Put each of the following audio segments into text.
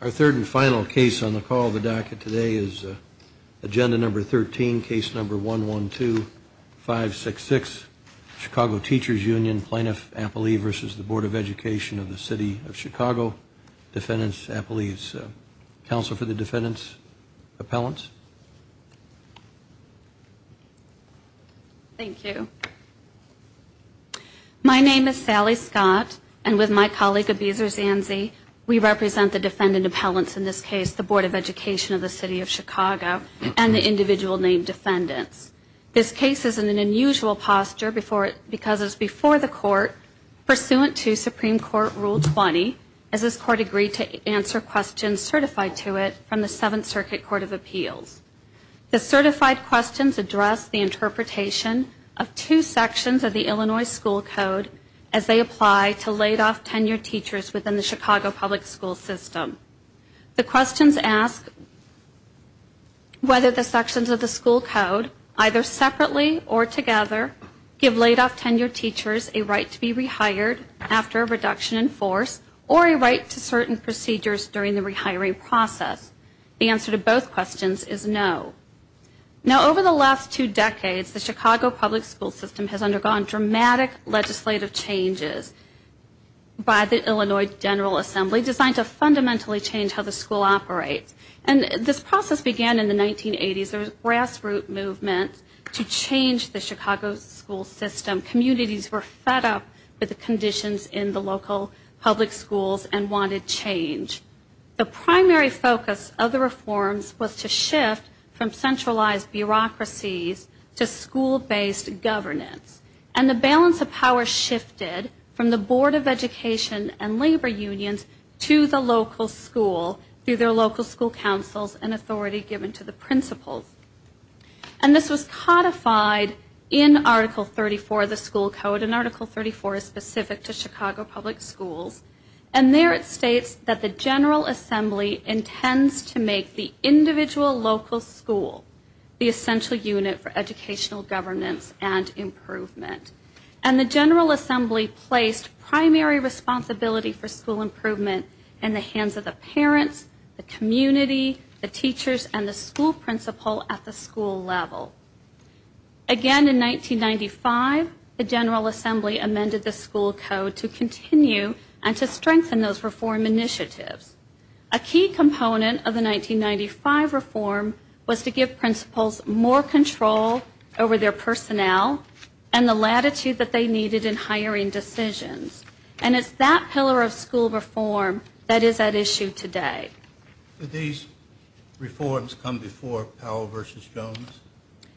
Our third and final case on the call of the docket today is Agenda Number 13, Case Number 112-566, Chicago Teachers Union, Plaintiff Appellee v. Board of Education of the City of Chicago, Defendant's Appellee's Counsel for the Defendant's Appellants. Thank you. My name is Sally Scott, and with my colleague Abeza Zanzi, we represent the Defendant Appellants in this case, the Board of Education of the City of Chicago, and the individual named defendants. This case is in an unusual posture because it is before the Court, pursuant to Supreme Court Rule 20, as this Court agreed to answer questions certified to it from the Seventh Circuit Court of Appeals. The certified questions address the interpretation of two sections of the Illinois school code as they apply to laid-off tenured teachers within the Chicago public school system. The questions ask whether the sections of the school code, either separately or together, give laid-off tenured teachers a right to be rehired after a reduction in force, or a right to certain procedures during the rehiring process. The answer to both questions is no. Now, over the last two decades, the Chicago public school system has undergone dramatic legislative changes by the Illinois General Assembly designed to fundamentally change how the school operates. And this process began in the 1980s. There was a grassroots movement to change the Chicago school system. Communities were fed up with the conditions in the local public schools and wanted change. The primary focus of the reforms was to shift from centralized bureaucracies to school-based governance. And the balance of power shifted from the Board of Education and labor unions to the local school through their local school councils and authority given to the principals. And this was codified in Article 34 of the school code, and Article 34 is specific to Chicago public schools. And there it states that the General Assembly intends to make the individual local school the essential unit for educational governance and improvement. And the General Assembly placed primary responsibility for school improvement in the hands of the parents, the community, the teachers, and the school principals at the school level. Again, in 1995, the General Assembly amended the school code to continue and to strengthen those reform initiatives. A key component of the 1995 reform was to give principals more control over their personnel and the latitude that they needed in hiring decisions. And it's that pillar of school reform that is at issue today. Did these reforms come before Powell v. Jones?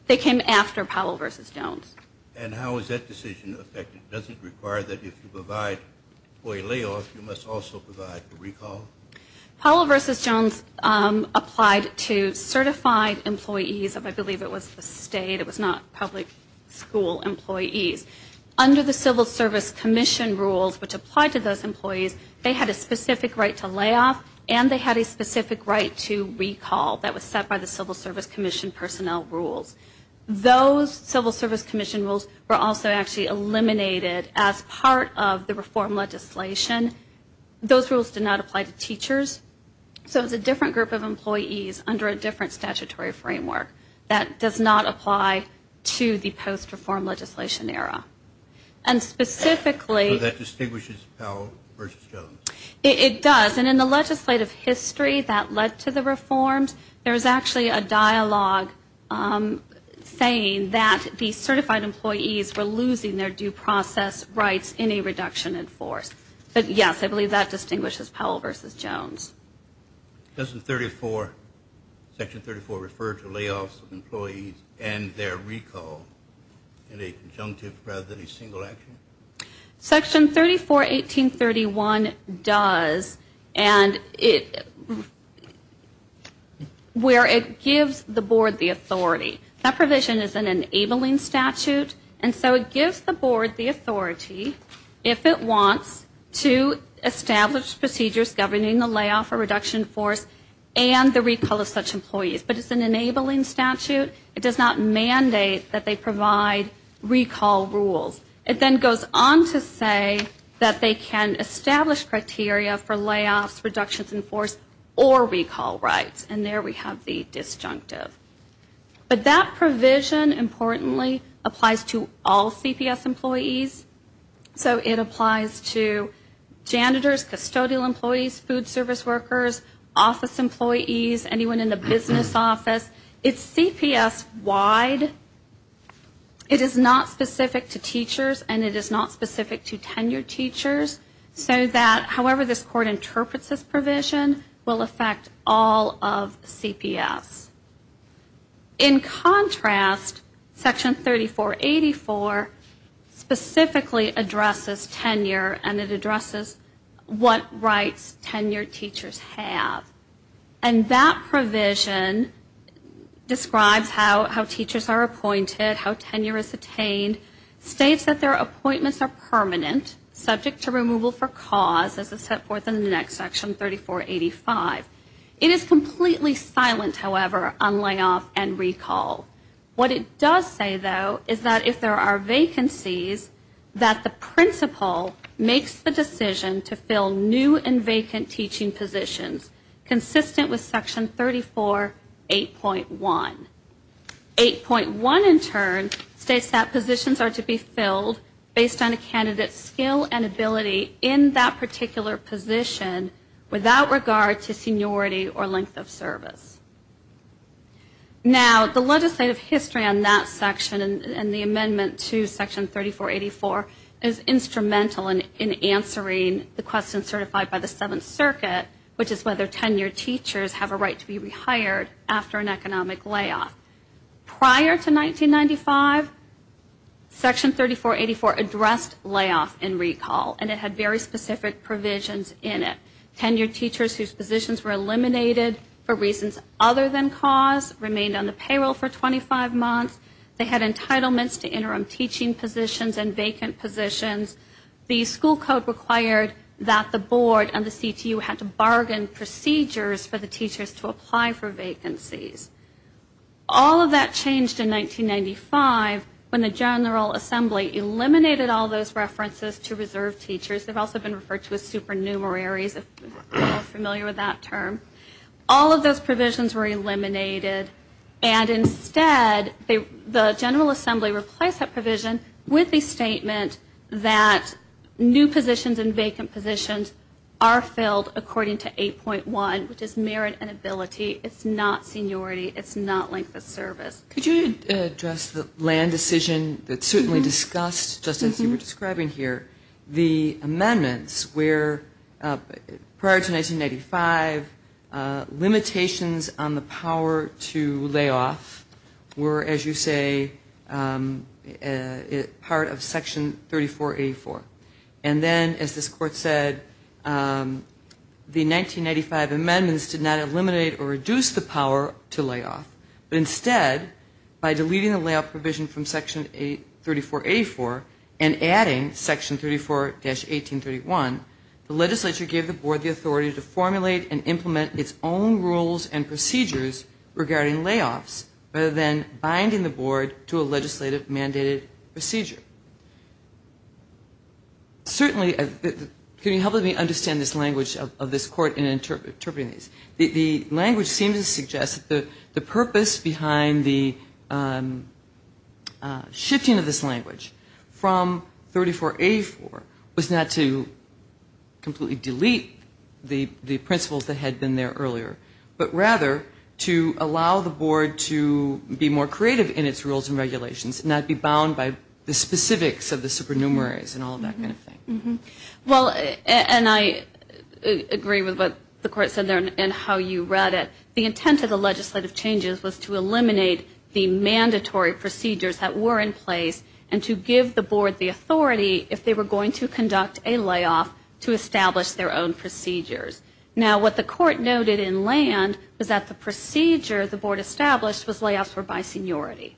They came after Powell v. Jones. And how is that decision affected? Does it require that if you provide for a layoff, you must also provide for recall? Powell v. Jones applied to certified employees of, I believe it was the state, it was not public school employees. Under the Civil Service Commission rules, which applied to those employees, they had a specific right to layoff and they had a right to recall. That was set by the Civil Service Commission personnel rules. Those Civil Service Commission rules were also actually eliminated as part of the reform legislation. Those rules did not apply to teachers. So it's a different group of employees under a different statutory framework that does not apply to the post-reform legislation era. And specifically... In the history that led to the reforms, there's actually a dialogue saying that the certified employees were losing their due process rights in a reduction in force. But yes, I believe that distinguishes Powell v. Jones. Doesn't Section 34 refer to layoffs of employees and their recall in a conjunctive rather than a single action? Section 34, 1831 does, and it... Where it gives the board the authority. That provision is an enabling statute, and so it gives the board the authority, if it wants, to establish procedures governing the layoff or reduction in force and the recall of such employees. But it's an enabling statute. It does not mandate that they provide recall rules. It then goes on to say that they can establish criteria for layoffs, reductions in force, or recall rights. And there we have the disjunctive. But that provision, importantly, applies to all CPS employees. So it applies to janitors, custodial employees, food service workers, office employees, anyone in the business office. It's CPS wide. It is not specific to teachers, and it is not specific to tenured teachers. So that, however this court interprets this provision, will affect all of CPS. In contrast, Section 34, 84 specifically addresses tenure, and it addresses what rights tenured teachers have. And that provision describes how teachers are appointed, how tenure is attained, states that their appointments are permanent, subject to removal for cause, as it's set forth in the next section, 34, 85. It is completely silent, however, on layoff and recall. What it does say, though, is that if there are vacancies, that the principal makes the decision to fill new and vacant teaching positions. Consistent with Section 34, 8.1. 8.1, in turn, states that positions are to be filled based on a candidate's skill and ability in that particular position, without regard to seniority or length of service. Now, the legislative history on that section, and the amendment to Section 34, 84, is instrumental in answering the question certified by the Seventh Circuit, which is whether tenured teachers have a right to be rehired after an economic layoff. Prior to 1995, Section 34, 84 addressed layoff and recall, and it had very specific provisions in it. Tenured teachers whose positions were eliminated for reasons other than cause remained on the payroll for 25 months. They had entitlements to interim teaching positions and vacant positions. The school code required that the board and the CTU had to bargain procedures for the teachers to apply for vacancies. All of that changed in 1995, when the General Assembly eliminated all those references to reserved teachers. They've also been referred to as supernumeraries, if you're familiar with that term. All of those provisions were eliminated, and instead, the General Assembly replaced that provision with the statement that teachers were entitled to, and that new positions and vacant positions are filled according to 8.1, which is merit and ability. It's not seniority. It's not length of service. Could you address the land decision that's certainly discussed, just as you were describing here, the amendments where prior to 1995, limitations on the power to layoff were, as you say, part of Section 34, 84. And then, as this court said, the 1995 amendments did not eliminate or reduce the power to layoff, but instead, by deleting the layout provision from Section 34, 84 and adding Section 34-1831, the legislature gave the board the authority to formulate and implement its own rules and procedures regarding layoffs, rather than binding the board to a legislative mandated procedure. Certainly, can you help me understand this language of this court in interpreting this? The language seems to suggest that the purpose behind the shifting of this language from 34-84 was not to completely delete the principles that had been there earlier, but rather to allow the board to be more creative in its rules and regulations and not be so numerous and all of that kind of thing. Well, and I agree with what the court said there and how you read it. The intent of the legislative changes was to eliminate the mandatory procedures that were in place and to give the board the authority, if they were going to conduct a layoff, to establish their own procedures. Now, what the court noted in land was that the procedure the board established was layoffs were by seniority.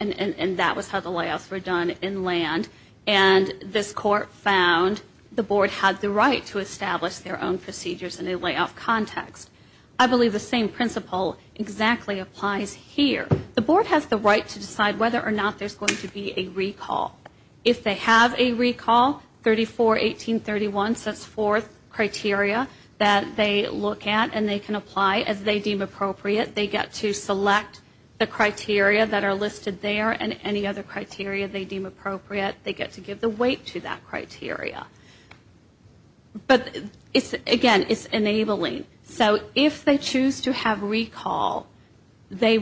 And that was how the layoffs were done in land. And this court found the board had the right to establish their own procedures in a layoff context. I believe the same principle exactly applies here. The board has the right to decide whether or not there's going to be a recall. If they have a recall, 34-1831 sets forth criteria that they look at and they can apply as they deem appropriate. They get to select the criteria that are listed in the criteria they deem appropriate. They get to give the weight to that criteria. But again, it's enabling. So if they choose to have recall, they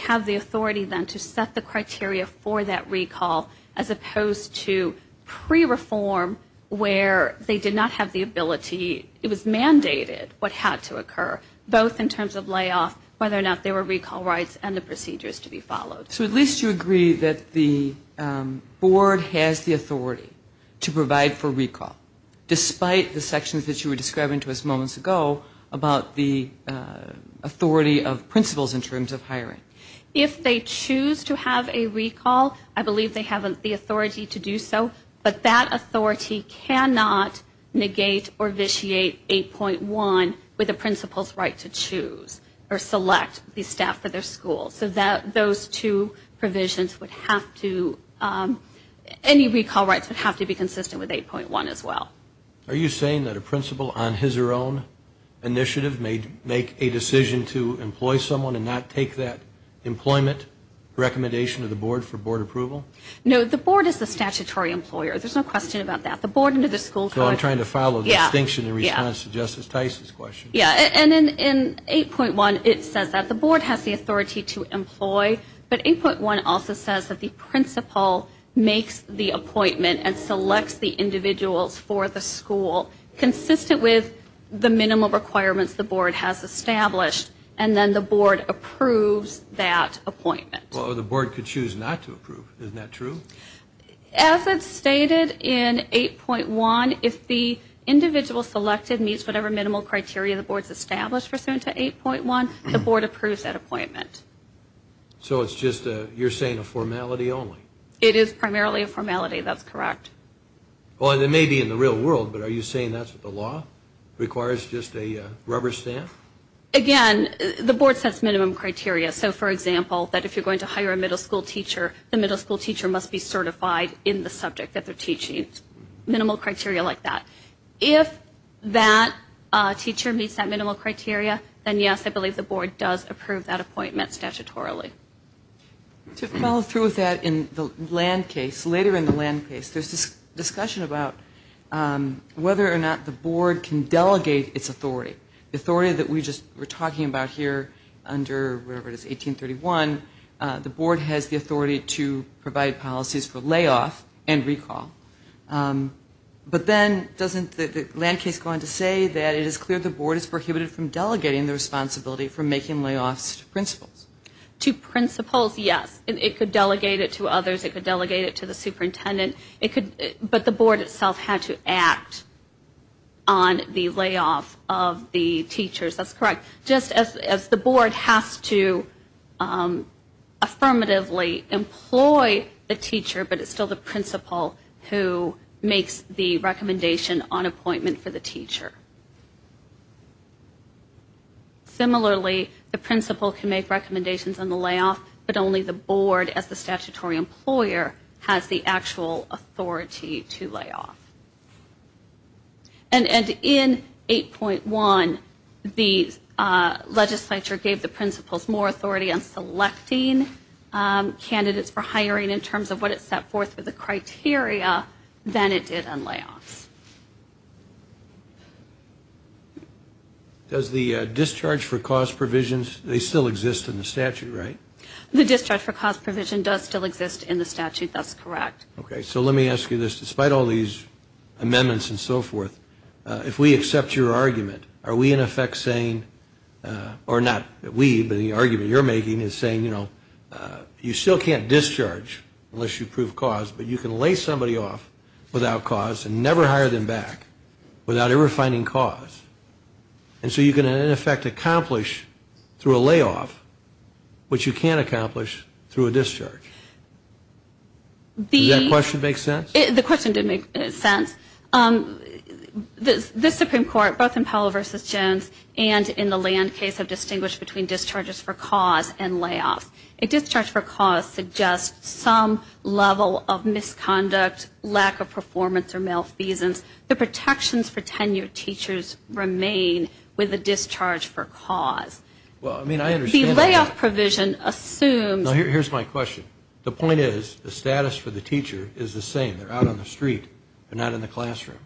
have the authority then to set the criteria for that recall as opposed to pre-reform where they did not have the ability, it was mandated what had to occur, both in terms of layoff, whether or not there were recall rights and the procedures to be followed. So at least you agree that the board has the authority to provide for recall, despite the sections that you were describing to us moments ago about the authority of principles in terms of hiring. If they choose to have a recall, I believe they have the authority to do so. But that authority cannot negate or vitiate 8.1 with a principal's right to choose or select the staff for their school. So those two provisions would have to, any recall rights would have to be consistent with 8.1 as well. Are you saying that a principal on his or her own initiative may make a decision to employ someone and not take that employment recommendation to the board for board approval? No, the board is the statutory employer. There's no question about that. So I'm trying to follow the distinction in response to Justice Tice's question. Yeah, and in 8.1 it says that the board has the authority to employ, but 8.1 also says that the principal makes the appointment and selects the individuals for the school consistent with the minimum requirements the board has established, and then the board approves that appointment. Well, the board could choose not to approve. Isn't that true? As it's stated in 8.1, if the individual selected meets whatever minimum criteria the board has established pursuant to 8.1, the board approves that appointment. So it's just, you're saying a formality only? It is primarily a formality. That's correct. Well, and it may be in the real world, but are you saying that's what the law requires, just a rubber stamp? Again, the board sets minimum criteria. So, for example, that if you're going to hire a middle school teacher, the middle school teacher must be certified in the subject that they're teaching. Minimal criteria like that. If that teacher meets that minimum criteria, then yes, I believe the board does approve that appointment statutorily. To follow through with that, in the land case, later in the land case, there's this discussion about whether or not the board can delegate its authority. The authority that we just were talking about here under whatever it is, 1831, the board has the authority to provide policies for layoff and recall. But then doesn't the land case go on to say that it is clear the board is prohibited from delegating the authority to the teacher? In some schools, yes. It could delegate it to others. It could delegate it to the superintendent. But the board itself had to act on the layoff of the teachers. That's correct. Just as the board has to affirmatively employ the teacher, but it's still the principal who makes the recommendation on appointment for the teacher. Similarly, the principal can make recommendations on the layoff, but only the board as the statutory employer has the actual authority to layoff. And in 8.1, the legislature gave the principals more authority on selecting candidates for hiring in terms of what it set forth for the criteria than it did on layoffs. Does the discharge for cause provisions, they still exist in the statute, right? The discharge for cause provision does still exist in the statute. That's correct. Okay. So let me ask you this. Despite all these amendments and so forth, if we accept your argument, are we in effect saying, or not we, but the argument you're making is saying, you know, you still can't discharge unless you prove cause, but you can lay somebody off without cause and without ever finding cause. And so you can, in effect, accomplish through a layoff what you can't accomplish through a discharge. Does that question make sense? The question did make sense. The Supreme Court, both in Powell v. Jones and in the Land case, have distinguished between discharges for cause and layoffs. A discharge for cause suggests some level of misconduct, lack of performance or malfeasance. The protections for 10 years teachers remain with a discharge for cause. The layoff provision assumes... Here's my question. The point is, the status for the teacher is the same. They're out on the street. They're not in the classroom.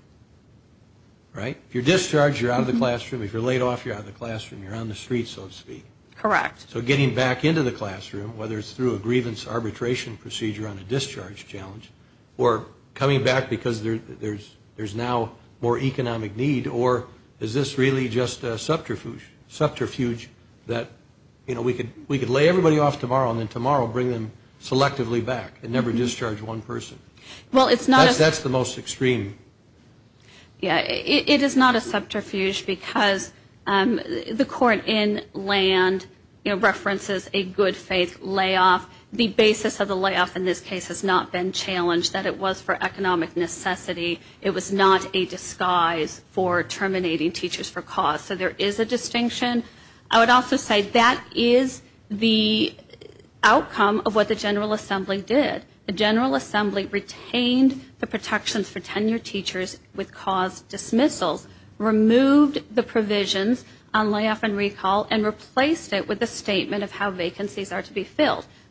Right? If you're discharged, you're out of the classroom. If you're laid off, you're out of the classroom. You're on the street, so to speak. Correct. So getting back into the classroom, whether it's through a grievance arbitration procedure on a discharge challenge, or coming back because there's now more economic need, or is this really just a subterfuge that, you know, we could lay everybody off tomorrow and then tomorrow bring them selectively back and never discharge one person? Well, it's not a... It references a good faith layoff. The basis of the layoff in this case has not been challenged, that it was for economic necessity. It was not a disguise for terminating teachers for cause. So there is a distinction. I would also say that is the outcome of what the General Assembly did. The General Assembly retained the protections for 10-year teachers with cause dismissals, removed the provisions on layoff and recall, and replaced it with a statement.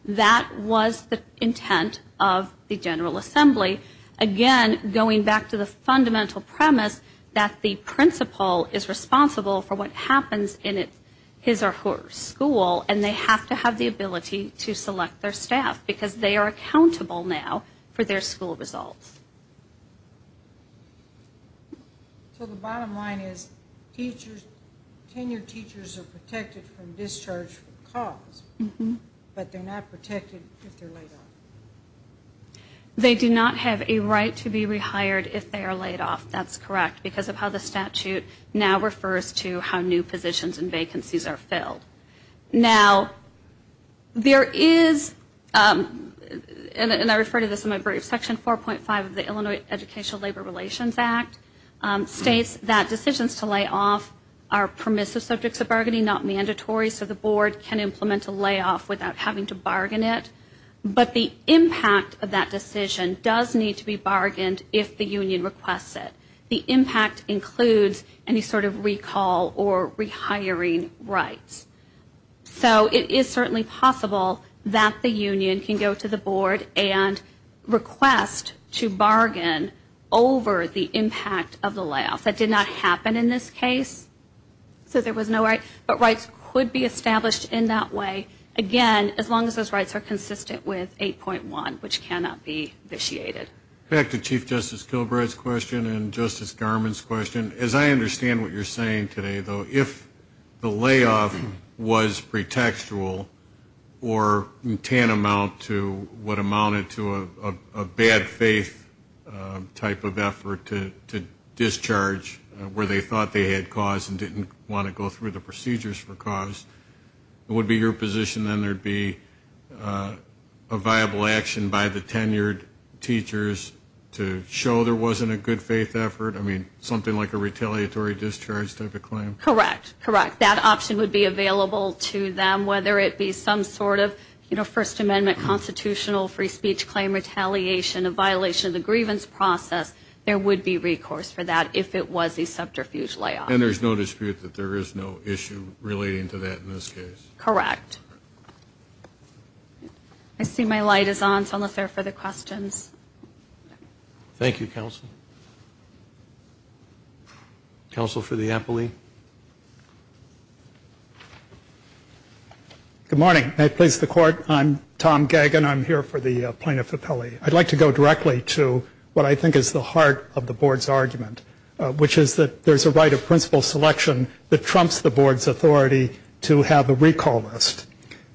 That was the intent of the General Assembly. Again, going back to the fundamental premise that the principal is responsible for what happens in his or her school, and they have to have the ability to select their staff, because they are accountable now for their school results. So the bottom line is, teachers, 10-year teachers are protected from discharge from classrooms, and they're not discharged from the school for cause, but they're not protected if they're laid off. They do not have a right to be rehired if they are laid off, that's correct, because of how the statute now refers to how new positions and vacancies are filled. Now, there is, and I refer to this in my brief, Section 4.5 of the Illinois Educational Labor Relations Act states that teachers can implement a layoff without having to bargain it, but the impact of that decision does need to be bargained if the union requests it. The impact includes any sort of recall or rehiring rights. So it is certainly possible that the union can go to the board and request to bargain over the impact of the layoff. That did not happen in this case, so there was no right, but rights could be negotiated in that way, again, as long as those rights are consistent with 8.1, which cannot be vitiated. Back to Chief Justice Kilbride's question and Justice Garmon's question. As I understand what you're saying today, though, if the layoff was pretextual or tantamount to what amounted to a bad faith type of effort to discharge where they thought they had cause and didn't want to go through the procedures for cause, it would be your position then there would be a viable action by the tenured teachers to show there wasn't a good faith effort? I mean, something like a retaliatory discharge type of claim? Correct. Correct. That option would be available to them, whether it be some sort of, you know, First Amendment constitutional free speech claim retaliation, a violation of the grievance process, there would be recourse for that if it was a subterfuge layoff. And there's no dispute that there is no issue relating to that in this case? Correct. I see my light is on, so I'll look for further questions. Thank you, counsel. Counsel for the appellee. Good morning. I please the Court. I'm Tom Gagin. I'm here for the plaintiff appellee. I'd like to go directly to what I think is the heart of the Board's argument, which is that there's a right of principal selection that trumps the Board's authority to have a recall list.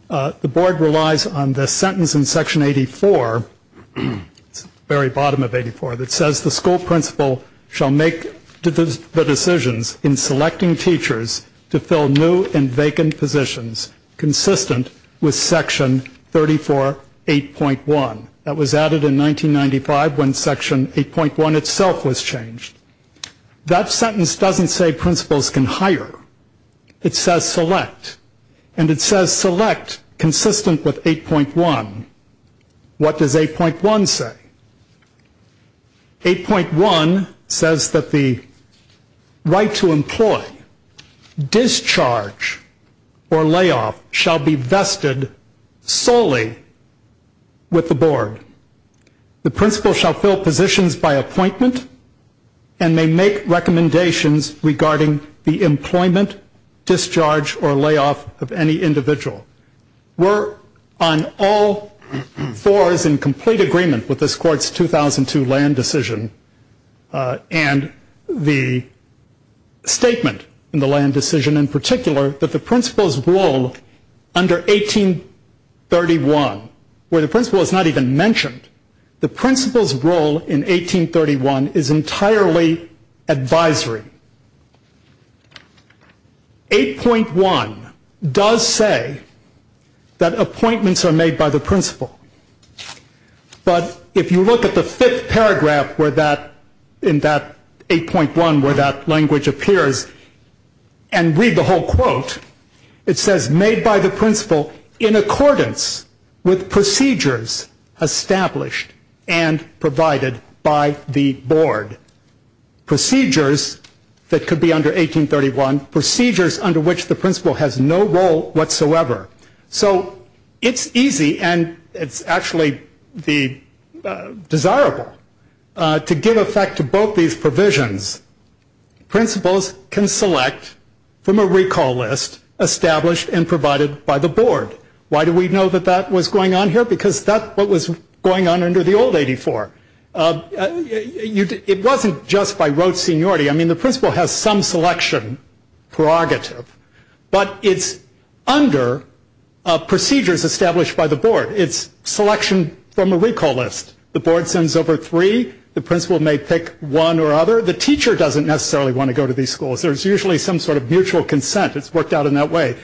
The Board relies on the sentence in Section 84, very bottom of 84, that says the school principal shall make the decisions in selecting teachers to fill new and vacant positions consistent with Section 34.8.1. That was added in 1995 when Section 8.1 itself was changed. That sentence doesn't say principals can hire. It says select. And it says select consistent with 8.1. What does 8.1 say? 8.1 says that the right to employ, discharge, or layoff shall be vested solely with the Board. The principal shall fill positions by appointment and may make recommendations regarding the employment, discharge, or layoff of any individual. We're on all fours in complete agreement with this Court's 2002 land decision and the statement in the land decision in particular that the principal's role under 1831, where the principal is not even mentioned, is to fill positions by appointment. As I mentioned, the principal's role in 1831 is entirely advisory. 8.1 does say that appointments are made by the principal, but if you look at the fifth paragraph in that 8.1 where that language appears and read the whole quote, it says made by the principal in accordance with procedures established by the principal. Procedures established and provided by the Board. Procedures that could be under 1831. Procedures under which the principal has no role whatsoever. So it's easy and it's actually desirable to give effect to both these provisions. Principals can select from a recall list established and provided by the Board. Why do we know that that was going on here? Because that's what was going on under the old 84. It wasn't just by rote seniority. I mean, the principal has some selection prerogative, but it's under procedures established by the Board. It's selection from a recall list. The Board sends over three. The principal may pick one or other. The teacher doesn't necessarily want to go to these schools. There's usually some sort of mutual consent. It's worked out in that way.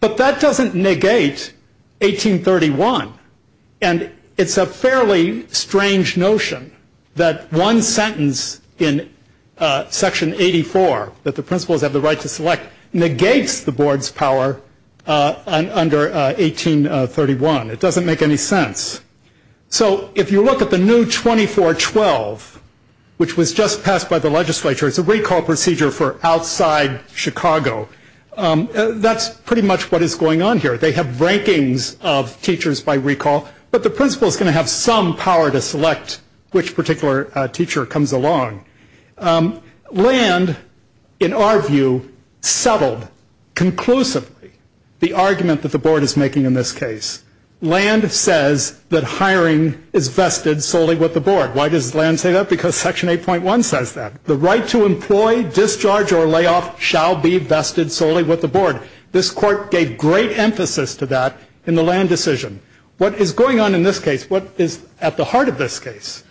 But that doesn't negate 1831. And it's a fairly strange notion that one sentence in Section 84 that the principals have the right to select negates the Board's power under 1831. It doesn't make any sense. So if you look at the new 2412, which was just passed by the legislature, it's a recall procedure for outside Chicago. That's pretty much what is going on here. They have rankings of teachers by recall, but the principal is going to have some power to select which particular teacher comes along. Land, in our view, settled conclusively the argument that the Board is making in this case. Land says that hiring is vested solely with the Board. Why does Land say that? Because Section 8.1 says that. The right to employ, discharge, or layoff shall be vested solely with the Board. This Court gave great emphasis to that in the Land decision. What is going on in this case, what is at the heart of this case,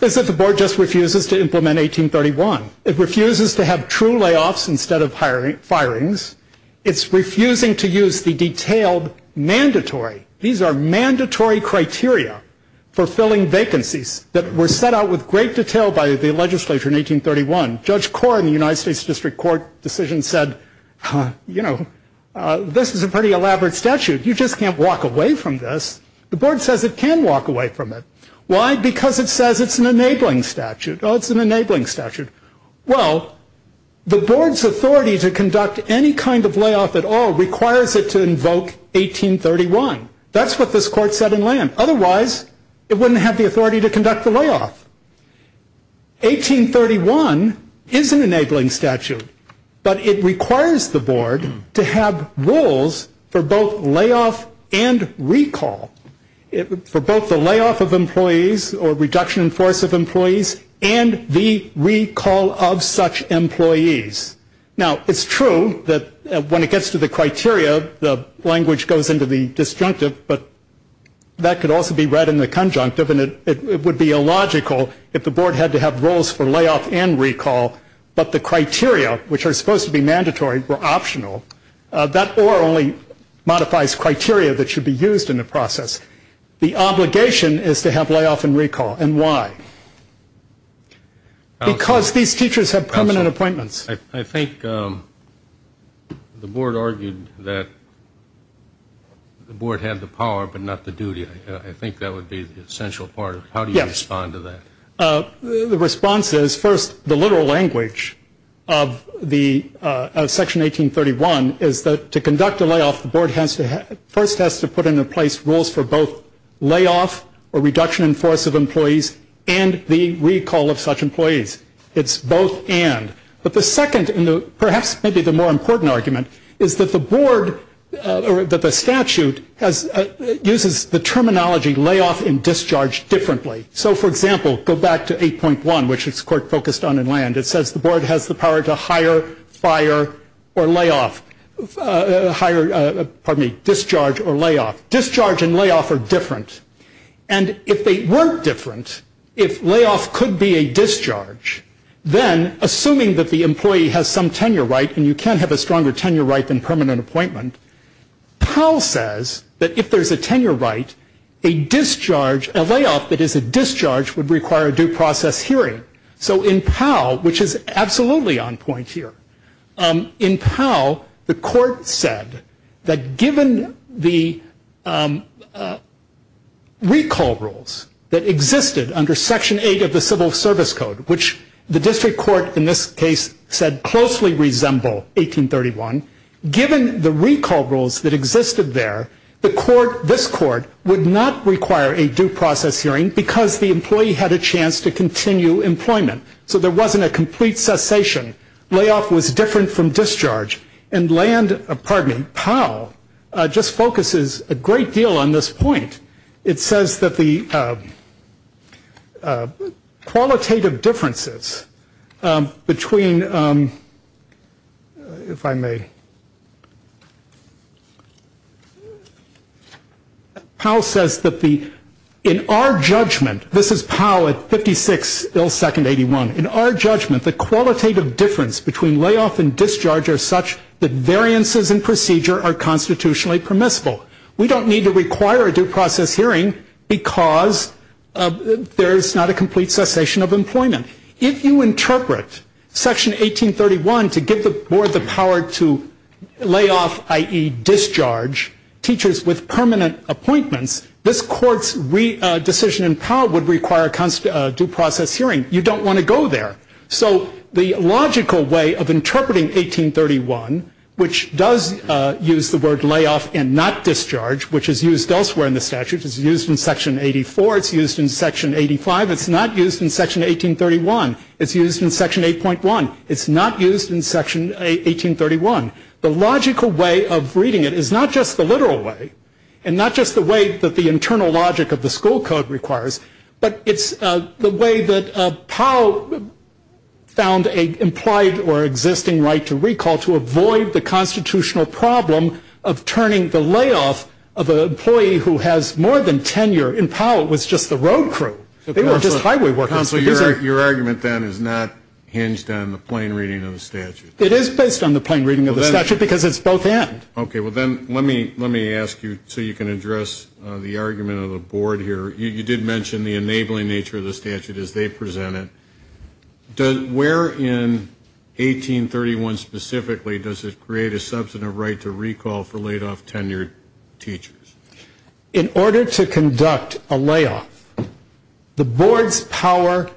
is that the Board just refuses to implement 1831. It refuses to have true layoffs instead of firings. It's refusing to use the detailed mandatory. These are mandatory criteria for filling vacancies that were set out with great detail by the legislature in 1831. Judge Corr in the United States District Court decision said, you know, this is a pretty elaborate statute. You just can't walk away from this. The Board says it can walk away from it. Why? Because it says it's an enabling statute. Oh, it's an enabling statute. Well, the Board's authority to conduct any kind of layoff at all requires it to invoke 1831. That's what this Court said in Land. Otherwise, it wouldn't have the authority to conduct the layoff. 1831 is an enabling statute, but it requires the Board to have rules for both layoff and recall. For both the layoff of employees or reduction in force of employees and the recall of such employees. Now, it's true that when it gets to the criteria, the language goes into the disjunctive, but that could also be read in the conjunctive, and it would be illogical if the Board had to have rules for layoff and recall, but the criteria, which are supposed to be mandatory, were optional. That OR only modifies criteria that should be used in the process. The obligation is to have layoff and recall. And why? Because these teachers have permanent appointments. I think the Board argued that the Board had the power, but not the duty. I think that would be the essential part. How do you respond to that? The response is, first, the literal language of Section 1831 is that to conduct a layoff, the Board first has to put into place rules for both layoff or reduction in force of employees and the recall of such employees. It's both and. But the second, and perhaps maybe the more important argument, is that the Board, or that the statute, uses the terminology layoff and discharge differently. So, for example, go back to 8.1, which the Court focused on in land. It says the Board has the power to hire, fire, or layoff, hire, pardon me, discharge or layoff. Discharge and layoff are different. And if they weren't different, if layoff could be a discharge, then assuming that the employee has some tenure right, and you can't have a stronger tenure right than permanent appointment, Powell says that if there's a tenure right, a discharge, a layoff that is a discharge, would require a due process hearing. So in Powell, which is absolutely on point here, in Powell, the Court said that given the recall rules that existed under Section 8 of the Civil Service Code, which the District Court in this case said closely resembled 1831, given the recall rules that existed there, the Court, this Court, would not require a due process hearing because the employee had a chance to continue employment. So there wasn't a complete cessation. Layoff was different from discharge. And land, pardon me, Powell, just focuses a great deal on this point. It says that the qualitative differences between, if I may, Powell says that the, in our judgment, this is Powell at 56 ill second 81, in our judgment, the qualitative difference between layoff and discharge are such that variances in procedure are constitutionally permissible. We don't need to require a due process hearing because there's not a complete cessation of employment. If you interpret Section 1831 to give the Board the power to, layoff, i.e., discharge teachers with permanent appointments, this Court's decision in Powell would require a due process hearing. You don't want to go there. So the logical way of interpreting 1831, which does use the word layoff and not discharge, which is used elsewhere in the statute, it's used in Section 84, it's used in Section 85, it's not used in Section 1831, it's used in Section 8.1, it's not used in Section 1831. The logical way of reading it is not just the literal way, and not just the way that the internal logic of the school code requires, but it's the way that Powell found an implied or existing right to recall to avoid the constitutional problem of turning the layoff of an employee who has more than tenure in Powell was just the road crew. They weren't just highway workers. Counsel, your argument then is not hinged on the plain reading of the statute. It is based on the plain reading of the statute because it's both end. Okay. Well, then let me ask you so you can address the argument of the Board here. You did mention the enabling nature of the statute as they present it. Where in 1831 specifically does it create a substantive right to recall for laid-off tenured teachers? In order to conduct a layoff, the Board's power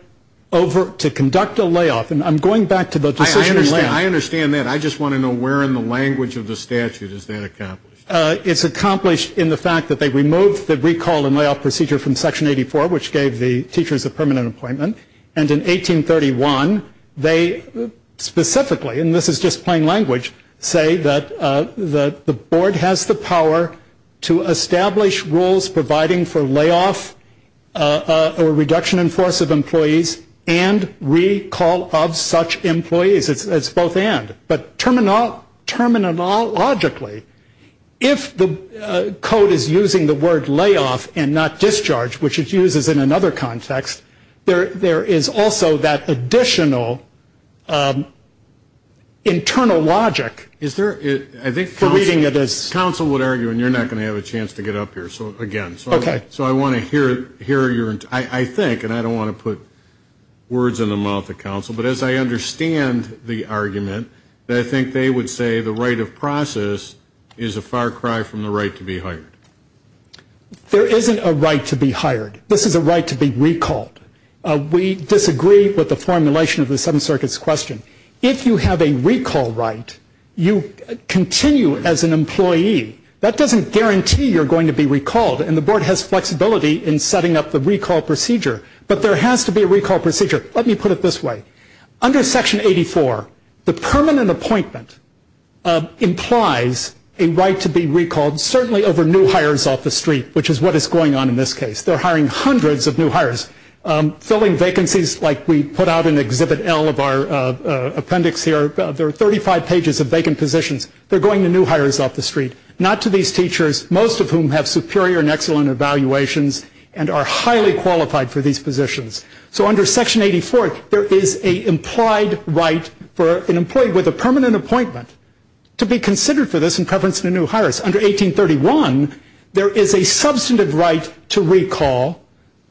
over to conduct a layoff, and I'm going back to the decision in layoff. I understand that. I just want to know where in the language of the statute is that accomplished. It's accomplished in the fact that they removed the recall and layoff procedure from Section 84, which gave the teachers a permanent appointment. And in 1831, they specifically, and this is just plain language, say that the Board has the power to establish rules providing for layoff or reduction in force of employees and recall of such employees. It's both end. But terminologically, if the code is using the word layoff and not discharge, which it uses in another context, there is also that additional internal logic. Is there, I think counsel would argue, and you're not going to have a chance to get up here again. Okay. So I want to hear your, I think, and I don't want to put words in the mouth of counsel, but as I understand the argument, I think they would say the right of process is a far cry from the right to be hired. There isn't a right to be hired. This is a right to be recalled. We disagree with the formulation of the Seventh Circuit's question. If you have a recall right, you continue as an employee. That doesn't guarantee you're going to be recalled, and the Board has flexibility in setting up the recall procedure. But there has to be a recall procedure. Let me put it this way. Under Section 84, the permanent appointment implies a right to be recalled, certainly over new hires off the street, which is what is going on in this case. They're hiring hundreds of new hires, filling vacancies like we put out in Exhibit L of our appendix here. There are 35 pages of vacant positions. They're going to new hires off the street. Not to these teachers, most of whom have superior and excellent evaluations and are highly qualified for these positions. So under Section 84, there is an implied right for an employee with a permanent appointment to be considered for this in preference to new hires. Under 1831, there is a substantive right to recall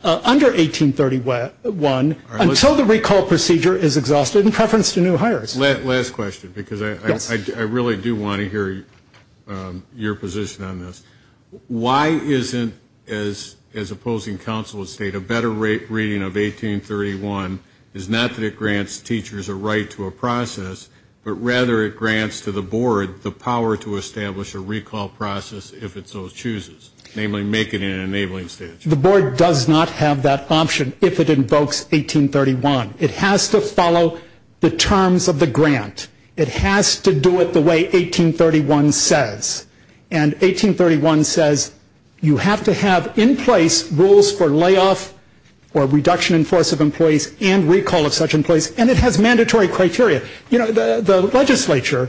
under 1831 until the recall procedure is exhausted in preference to new hires. Last question, because I really do want to hear your position on this. Why isn't, as opposing counsel would state, a better reading of 1831 is not that it grants teachers a right to a process, but rather it grants to the board the power to establish a recall process if it so chooses, namely make it an enabling statute? The board does not have that option if it invokes 1831. It has to follow the terms of the grant. It has to do it the way 1831 says. And 1831 says you have to have in place rules for layoff or reduction in force of employees and recall of such employees, and it has mandatory criteria. You know, the legislature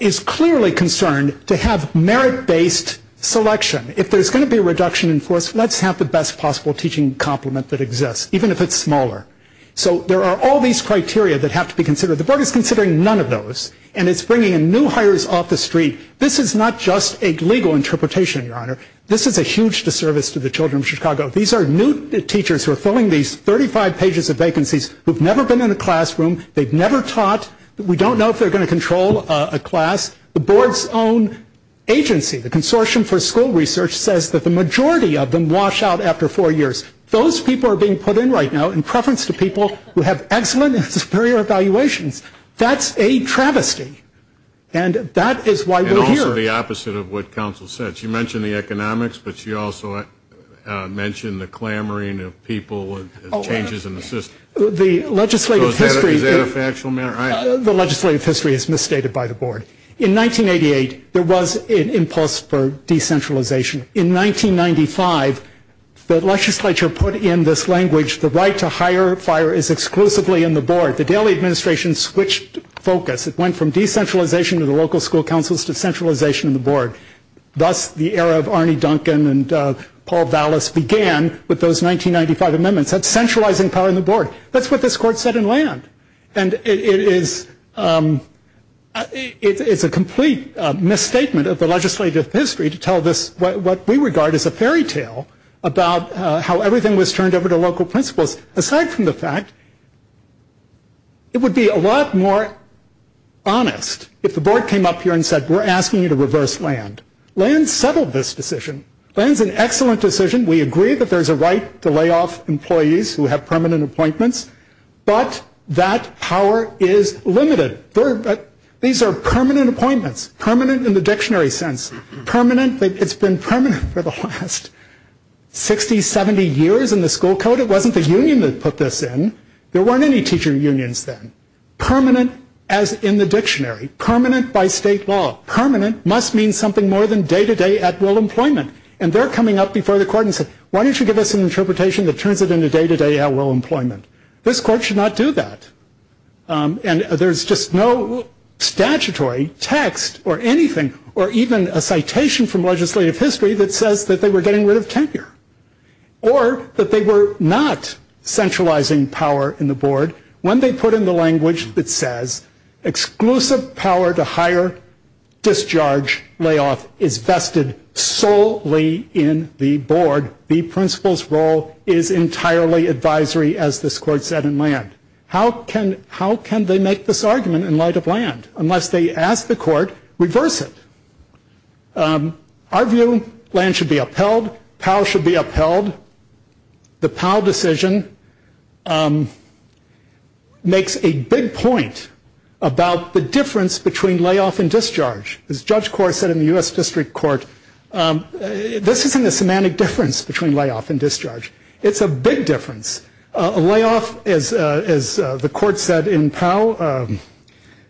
is clearly concerned to have merit-based selection. If there's going to be a reduction in force, let's have the best possible teaching complement that exists, even if it's smaller. So there are all these criteria that have to be considered. The board is considering none of those, and it's bringing in new hires off the street. This is not just a legal interpretation, Your Honor. This is a huge disservice to the children of Chicago. These are new teachers who are filling these 35 pages of vacancies who have never been in a classroom. They've never taught. We don't know if they're going to control a class. The board's own agency, the Consortium for School Research, says that the majority of them wash out after four years. Those people are being put in right now in preference to people who have excellent and superior evaluations. That's a travesty, and that is why we're here. And also the opposite of what counsel said. She mentioned the economics, but she also mentioned the clamoring of people and changes in the system. So is that a factual matter? The legislative history is misstated by the board. In 1988, there was an impulse for decentralization. In 1995, the legislature put in this language, the right to hire a fire is exclusively in the board. The Daley administration switched focus. It went from decentralization to the local school councils to centralization of the board. Thus, the era of Arne Duncan and Paul Vallis began with those 1995 amendments. That's centralizing power in the board. That's what this court said in land. And it is a complete misstatement of the legislative history to tell this, what we regard as a fairy tale, about how everything was turned over to local principals. Aside from the fact, it would be a lot more honest if the board came up here and said, we're asking you to reverse land. Land settled this decision. Land's an excellent decision. We agree that there's a right to lay off employees who have permanent appointments, but that power is limited. These are permanent appointments, permanent in the dictionary sense. It's been permanent for the last 60, 70 years in the school code. It wasn't the union that put this in. There weren't any teacher unions then. Permanent as in the dictionary. Permanent by state law. Permanent must mean something more than day-to-day at-will employment. And they're coming up before the court and saying, why don't you give us an interpretation that turns it into day-to-day at-will employment? This court should not do that. And there's just no statutory text or anything, or even a citation from legislative history that says that they were getting rid of tenure, or that they were not centralizing power in the board when they put in the language that says, exclusive power to hire, discharge, layoff is vested solely in the board. The principal's role is entirely advisory, as this court said, in land. How can they make this argument in light of land? Unless they ask the court, reverse it. Our view, land should be upheld. POW should be upheld. The POW decision makes a big point about the difference between layoff and discharge. As Judge Corr said in the U.S. District Court, this isn't a semantic difference between layoff and discharge. It's a big difference. A layoff, as the court said in POW,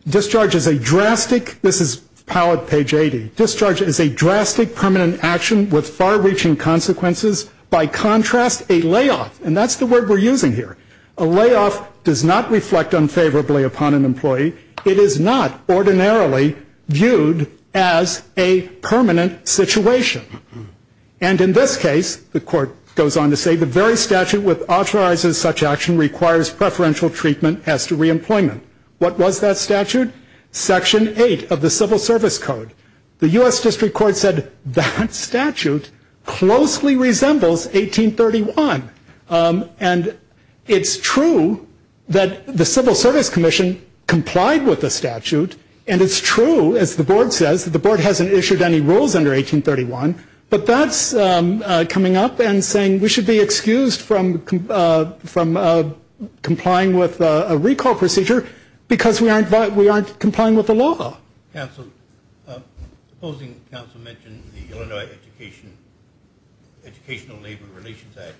discharge is a drastic, this is POW at page 80, discharge is a drastic, permanent action with far-reaching consequences. By contrast, a layoff, and that's the word we're using here, a layoff does not reflect unfavorably upon an employee. It is not ordinarily viewed as a permanent situation. And in this case, the court goes on to say, the very statute which authorizes such action requires preferential treatment as to reemployment. What was that statute? Section 8 of the Civil Service Code. The U.S. District Court said that statute closely resembles 1831. And it's true that the Civil Service Commission complied with the statute, and it's true, as the board says, that the board hasn't issued any rules under 1831, but that's coming up and saying we should be excused from complying with a recall procedure because we aren't complying with the law. Counsel, opposing counsel mentioned the Illinois Educational Labor Relations Act.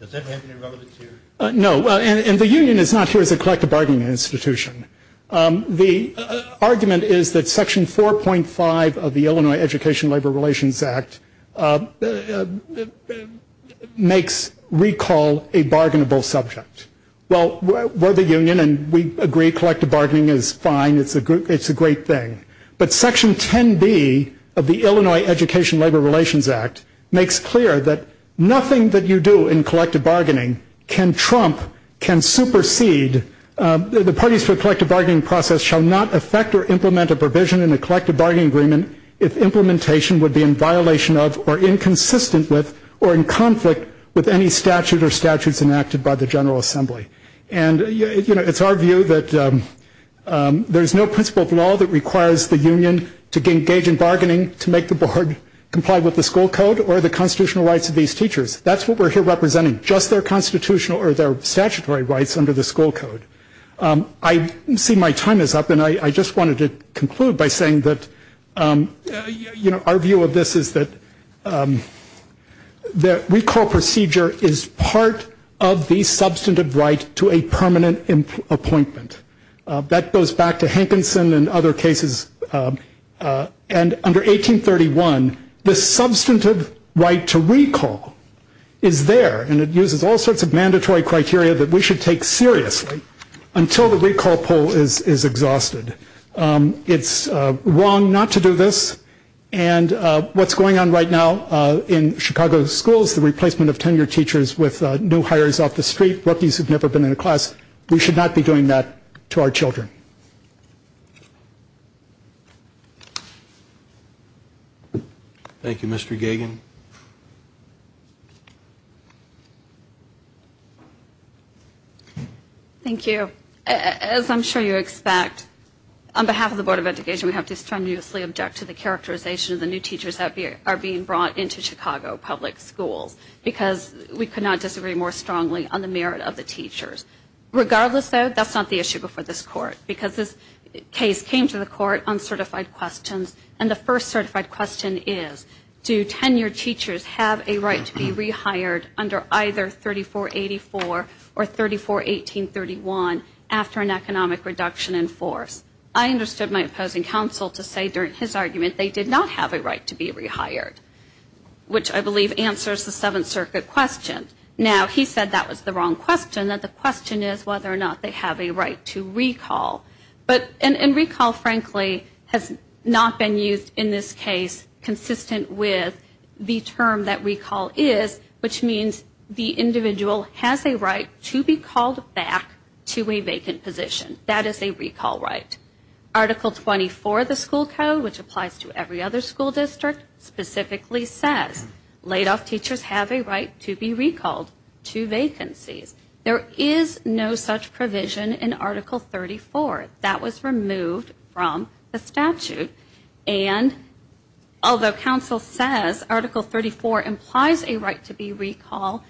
Does that have any relevance here? No, and the union is not here as a collective bargaining institution. The argument is that Section 4.5 of the Illinois Education Labor Relations Act makes recall a bargainable subject. Well, we're the union, and we agree collective bargaining is fine. It's a great thing. But Section 10B of the Illinois Education Labor Relations Act makes clear that nothing that you do in collective bargaining can trump, can supersede, the parties for collective bargaining process shall not affect or implement a provision in a collective bargaining agreement if implementation would be in violation of or in conflict with any statute or statutes enacted by the General Assembly. And, you know, it's our view that there's no principle of law that requires the union to engage in bargaining to make the board comply with the school code or the constitutional rights of these teachers. That's what we're here representing, just their constitutional or their statutory rights under the school code. I see my time is up, and I just wanted to conclude by saying that, you know, our view of this is that the recall procedure is part of the substantive right to a permanent appointment. That goes back to Hankinson and other cases. And under 1831, the substantive right to recall is there, and it uses all sorts of mandatory criteria that we should take seriously until the recall poll is exhausted. It's wrong not to do this, and what's going on right now in Chicago schools, the replacement of tenure teachers with new hires off the street, rookies who've never been in a class, we should not be doing that to our children. Thank you. Thank you, Mr. Gagin. Thank you. As I'm sure you expect, on behalf of the Board of Education, we have to strenuously object to the characterization of the new teachers that are being brought into Chicago public schools because we could not disagree more strongly on the merit of the teachers. Regardless, though, that's not the issue before this Court because this case came to the Court on certified questions, and the first certified question is, do tenure teachers have a right to be rehired under either 3484 or 341831 after an economic reduction in force? I understood my opposing counsel to say during his argument they did not have a right to be rehired, which I believe answers the Seventh Circuit question. Now, he said that was the wrong question, that the question is whether or not they have a right to recall. And recall, frankly, has not been used in this case consistent with the term that recall is, which means the individual has a right to be called back to a vacant position. That is a recall right. Article 24 of the school code, which applies to every other school district, specifically says laid-off teachers have a right to be recalled to vacancies. There is no such provision in Article 34. That was removed from the statute. And although counsel says Article 34 implies a right to be recalled,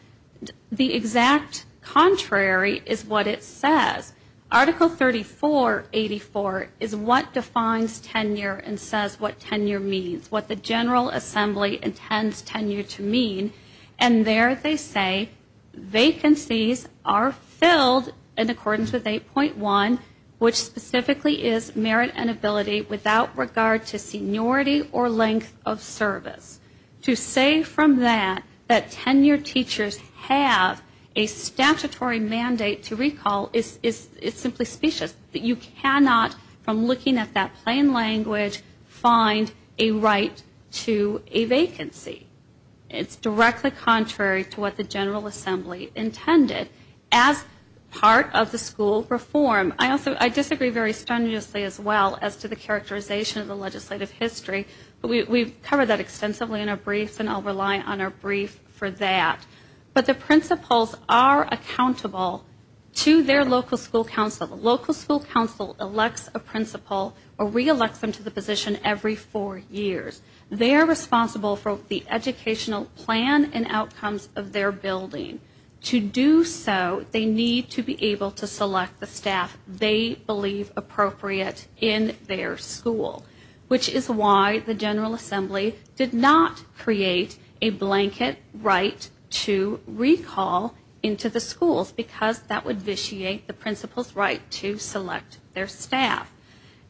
the exact contrary is what it says. Article 3484 is what defines tenure and says what tenure means, what the General Assembly intends tenure to mean. And there they say vacancies are filled in accordance with 8.1, which specifically is merit and ability without regard to seniority or length of service. To say from that that tenure teachers have a statutory mandate to recall is simply specious. You cannot, from looking at that plain language, find a right to a vacancy. It's directly contrary to what the General Assembly intended as part of the school reform. I disagree very strenuously as well as to the characterization of the legislative history, but we've covered that extensively in our briefs and I'll rely on our brief for that. But the principals are accountable to their local school council. The local school council elects a principal or re-elects them to the position every four years. They are responsible for the educational plan and outcomes of their building. To do so, they need to be able to select the staff they believe appropriate in their school, which is why the General Assembly did not create a blanket right to recall into the schools because that would vitiate the principal's right to select their staff.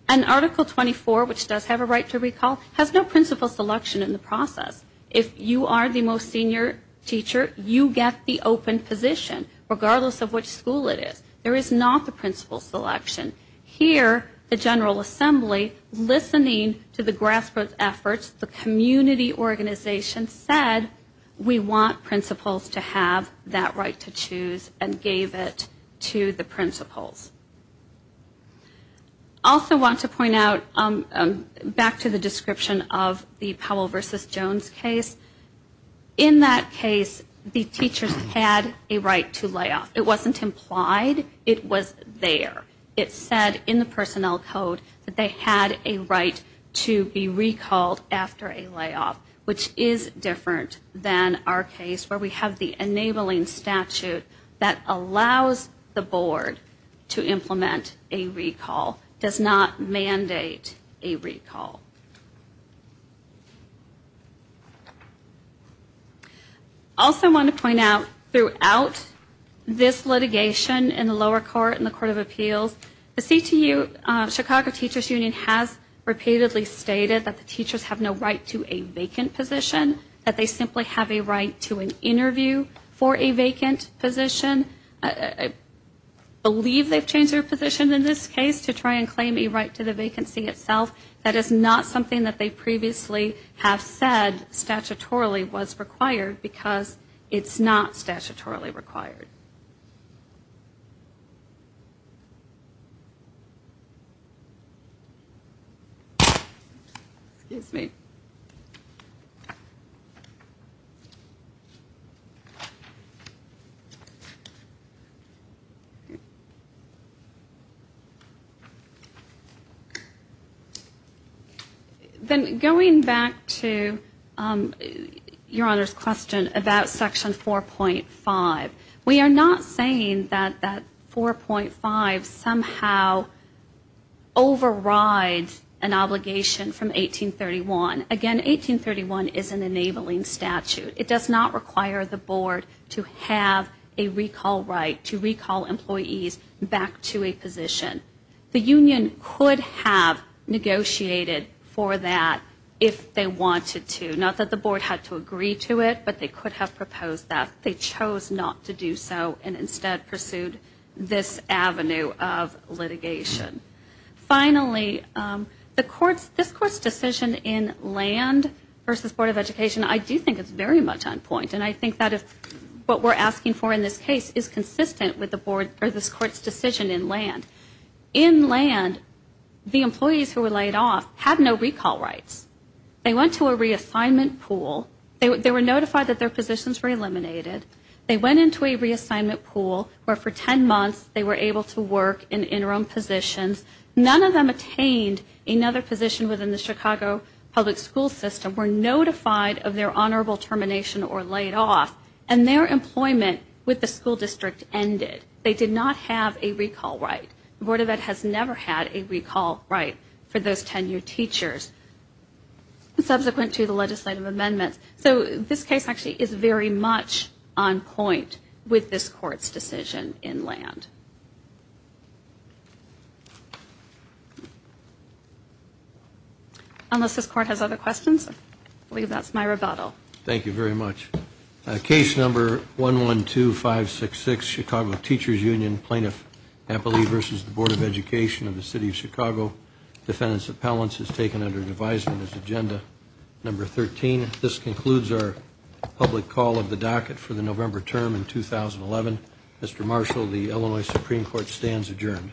And Article 24, which does have a right to recall, has no principal selection in the process. If you are the most senior teacher, you get the open position, regardless of which school it is. There is not the principal selection. Here, the General Assembly, listening to the grassroots efforts, the community organization, said we want principals to have that right to choose and gave it to the principals. I also want to point out, back to the description of the Powell v. Jones case, in that case, the teachers had a right to layoff. It wasn't implied, it was there. It said in the personnel code that they had a right to be recalled after a layoff, which is different than our case where we have the enabling statute that allows the board to implement a recall, does not mandate a recall. I also want to point out, throughout this litigation in the lower court and the Court of Appeals, the CTU, Chicago Teachers Union, has repeatedly stated that the teachers have no right to a vacant position, that they simply have a right to an interview for a vacant position. I believe they've changed their position in this case to try and claim a right to the vacancy itself. That is not something that they previously have said statutorily was required because it's not statutorily required. Then going back to Your Honor's question about Section 4.5, we are not saying that that 4.5 somehow overrides an obligation from 1831. Again, 1831 is an enabling statute. It does not require the board to have a recall right to recall employees back to a position. The union could have negotiated for that if they wanted to, not that the board had to agree to it, but they could have proposed that. They chose not to do so and instead pursued this avenue of litigation. Finally, this Court's decision in land versus Board of Education, I do think it's very much on point, and I think that what we're asking for in this case is consistent with this Court's decision in land. In land, the employees who were laid off had no recall rights. They went to a reassignment pool. They were notified that their positions were eliminated. They went into a reassignment pool where for ten months they were able to work in interim positions. None of them attained another position within the Chicago public school system, were notified of their honorable termination or laid off, and their employment with the school district ended. They did not have a recall right. The Board of Ed has never had a recall right for those tenured teachers. Subsequent to the legislative amendment. So this case actually is very much on point with this Court's decision in land. Unless this Court has other questions, I believe that's my rebuttal. Thank you very much. Case number 112-566, Chicago Teachers Union, Plaintiff Appellee versus the Board of Education of the City of Chicago. Defendant's appellant is taken under advisement as agenda number 13. This concludes our public call of the docket for the November term in 2011. Mr. Marshall, the Illinois Supreme Court stands adjourned.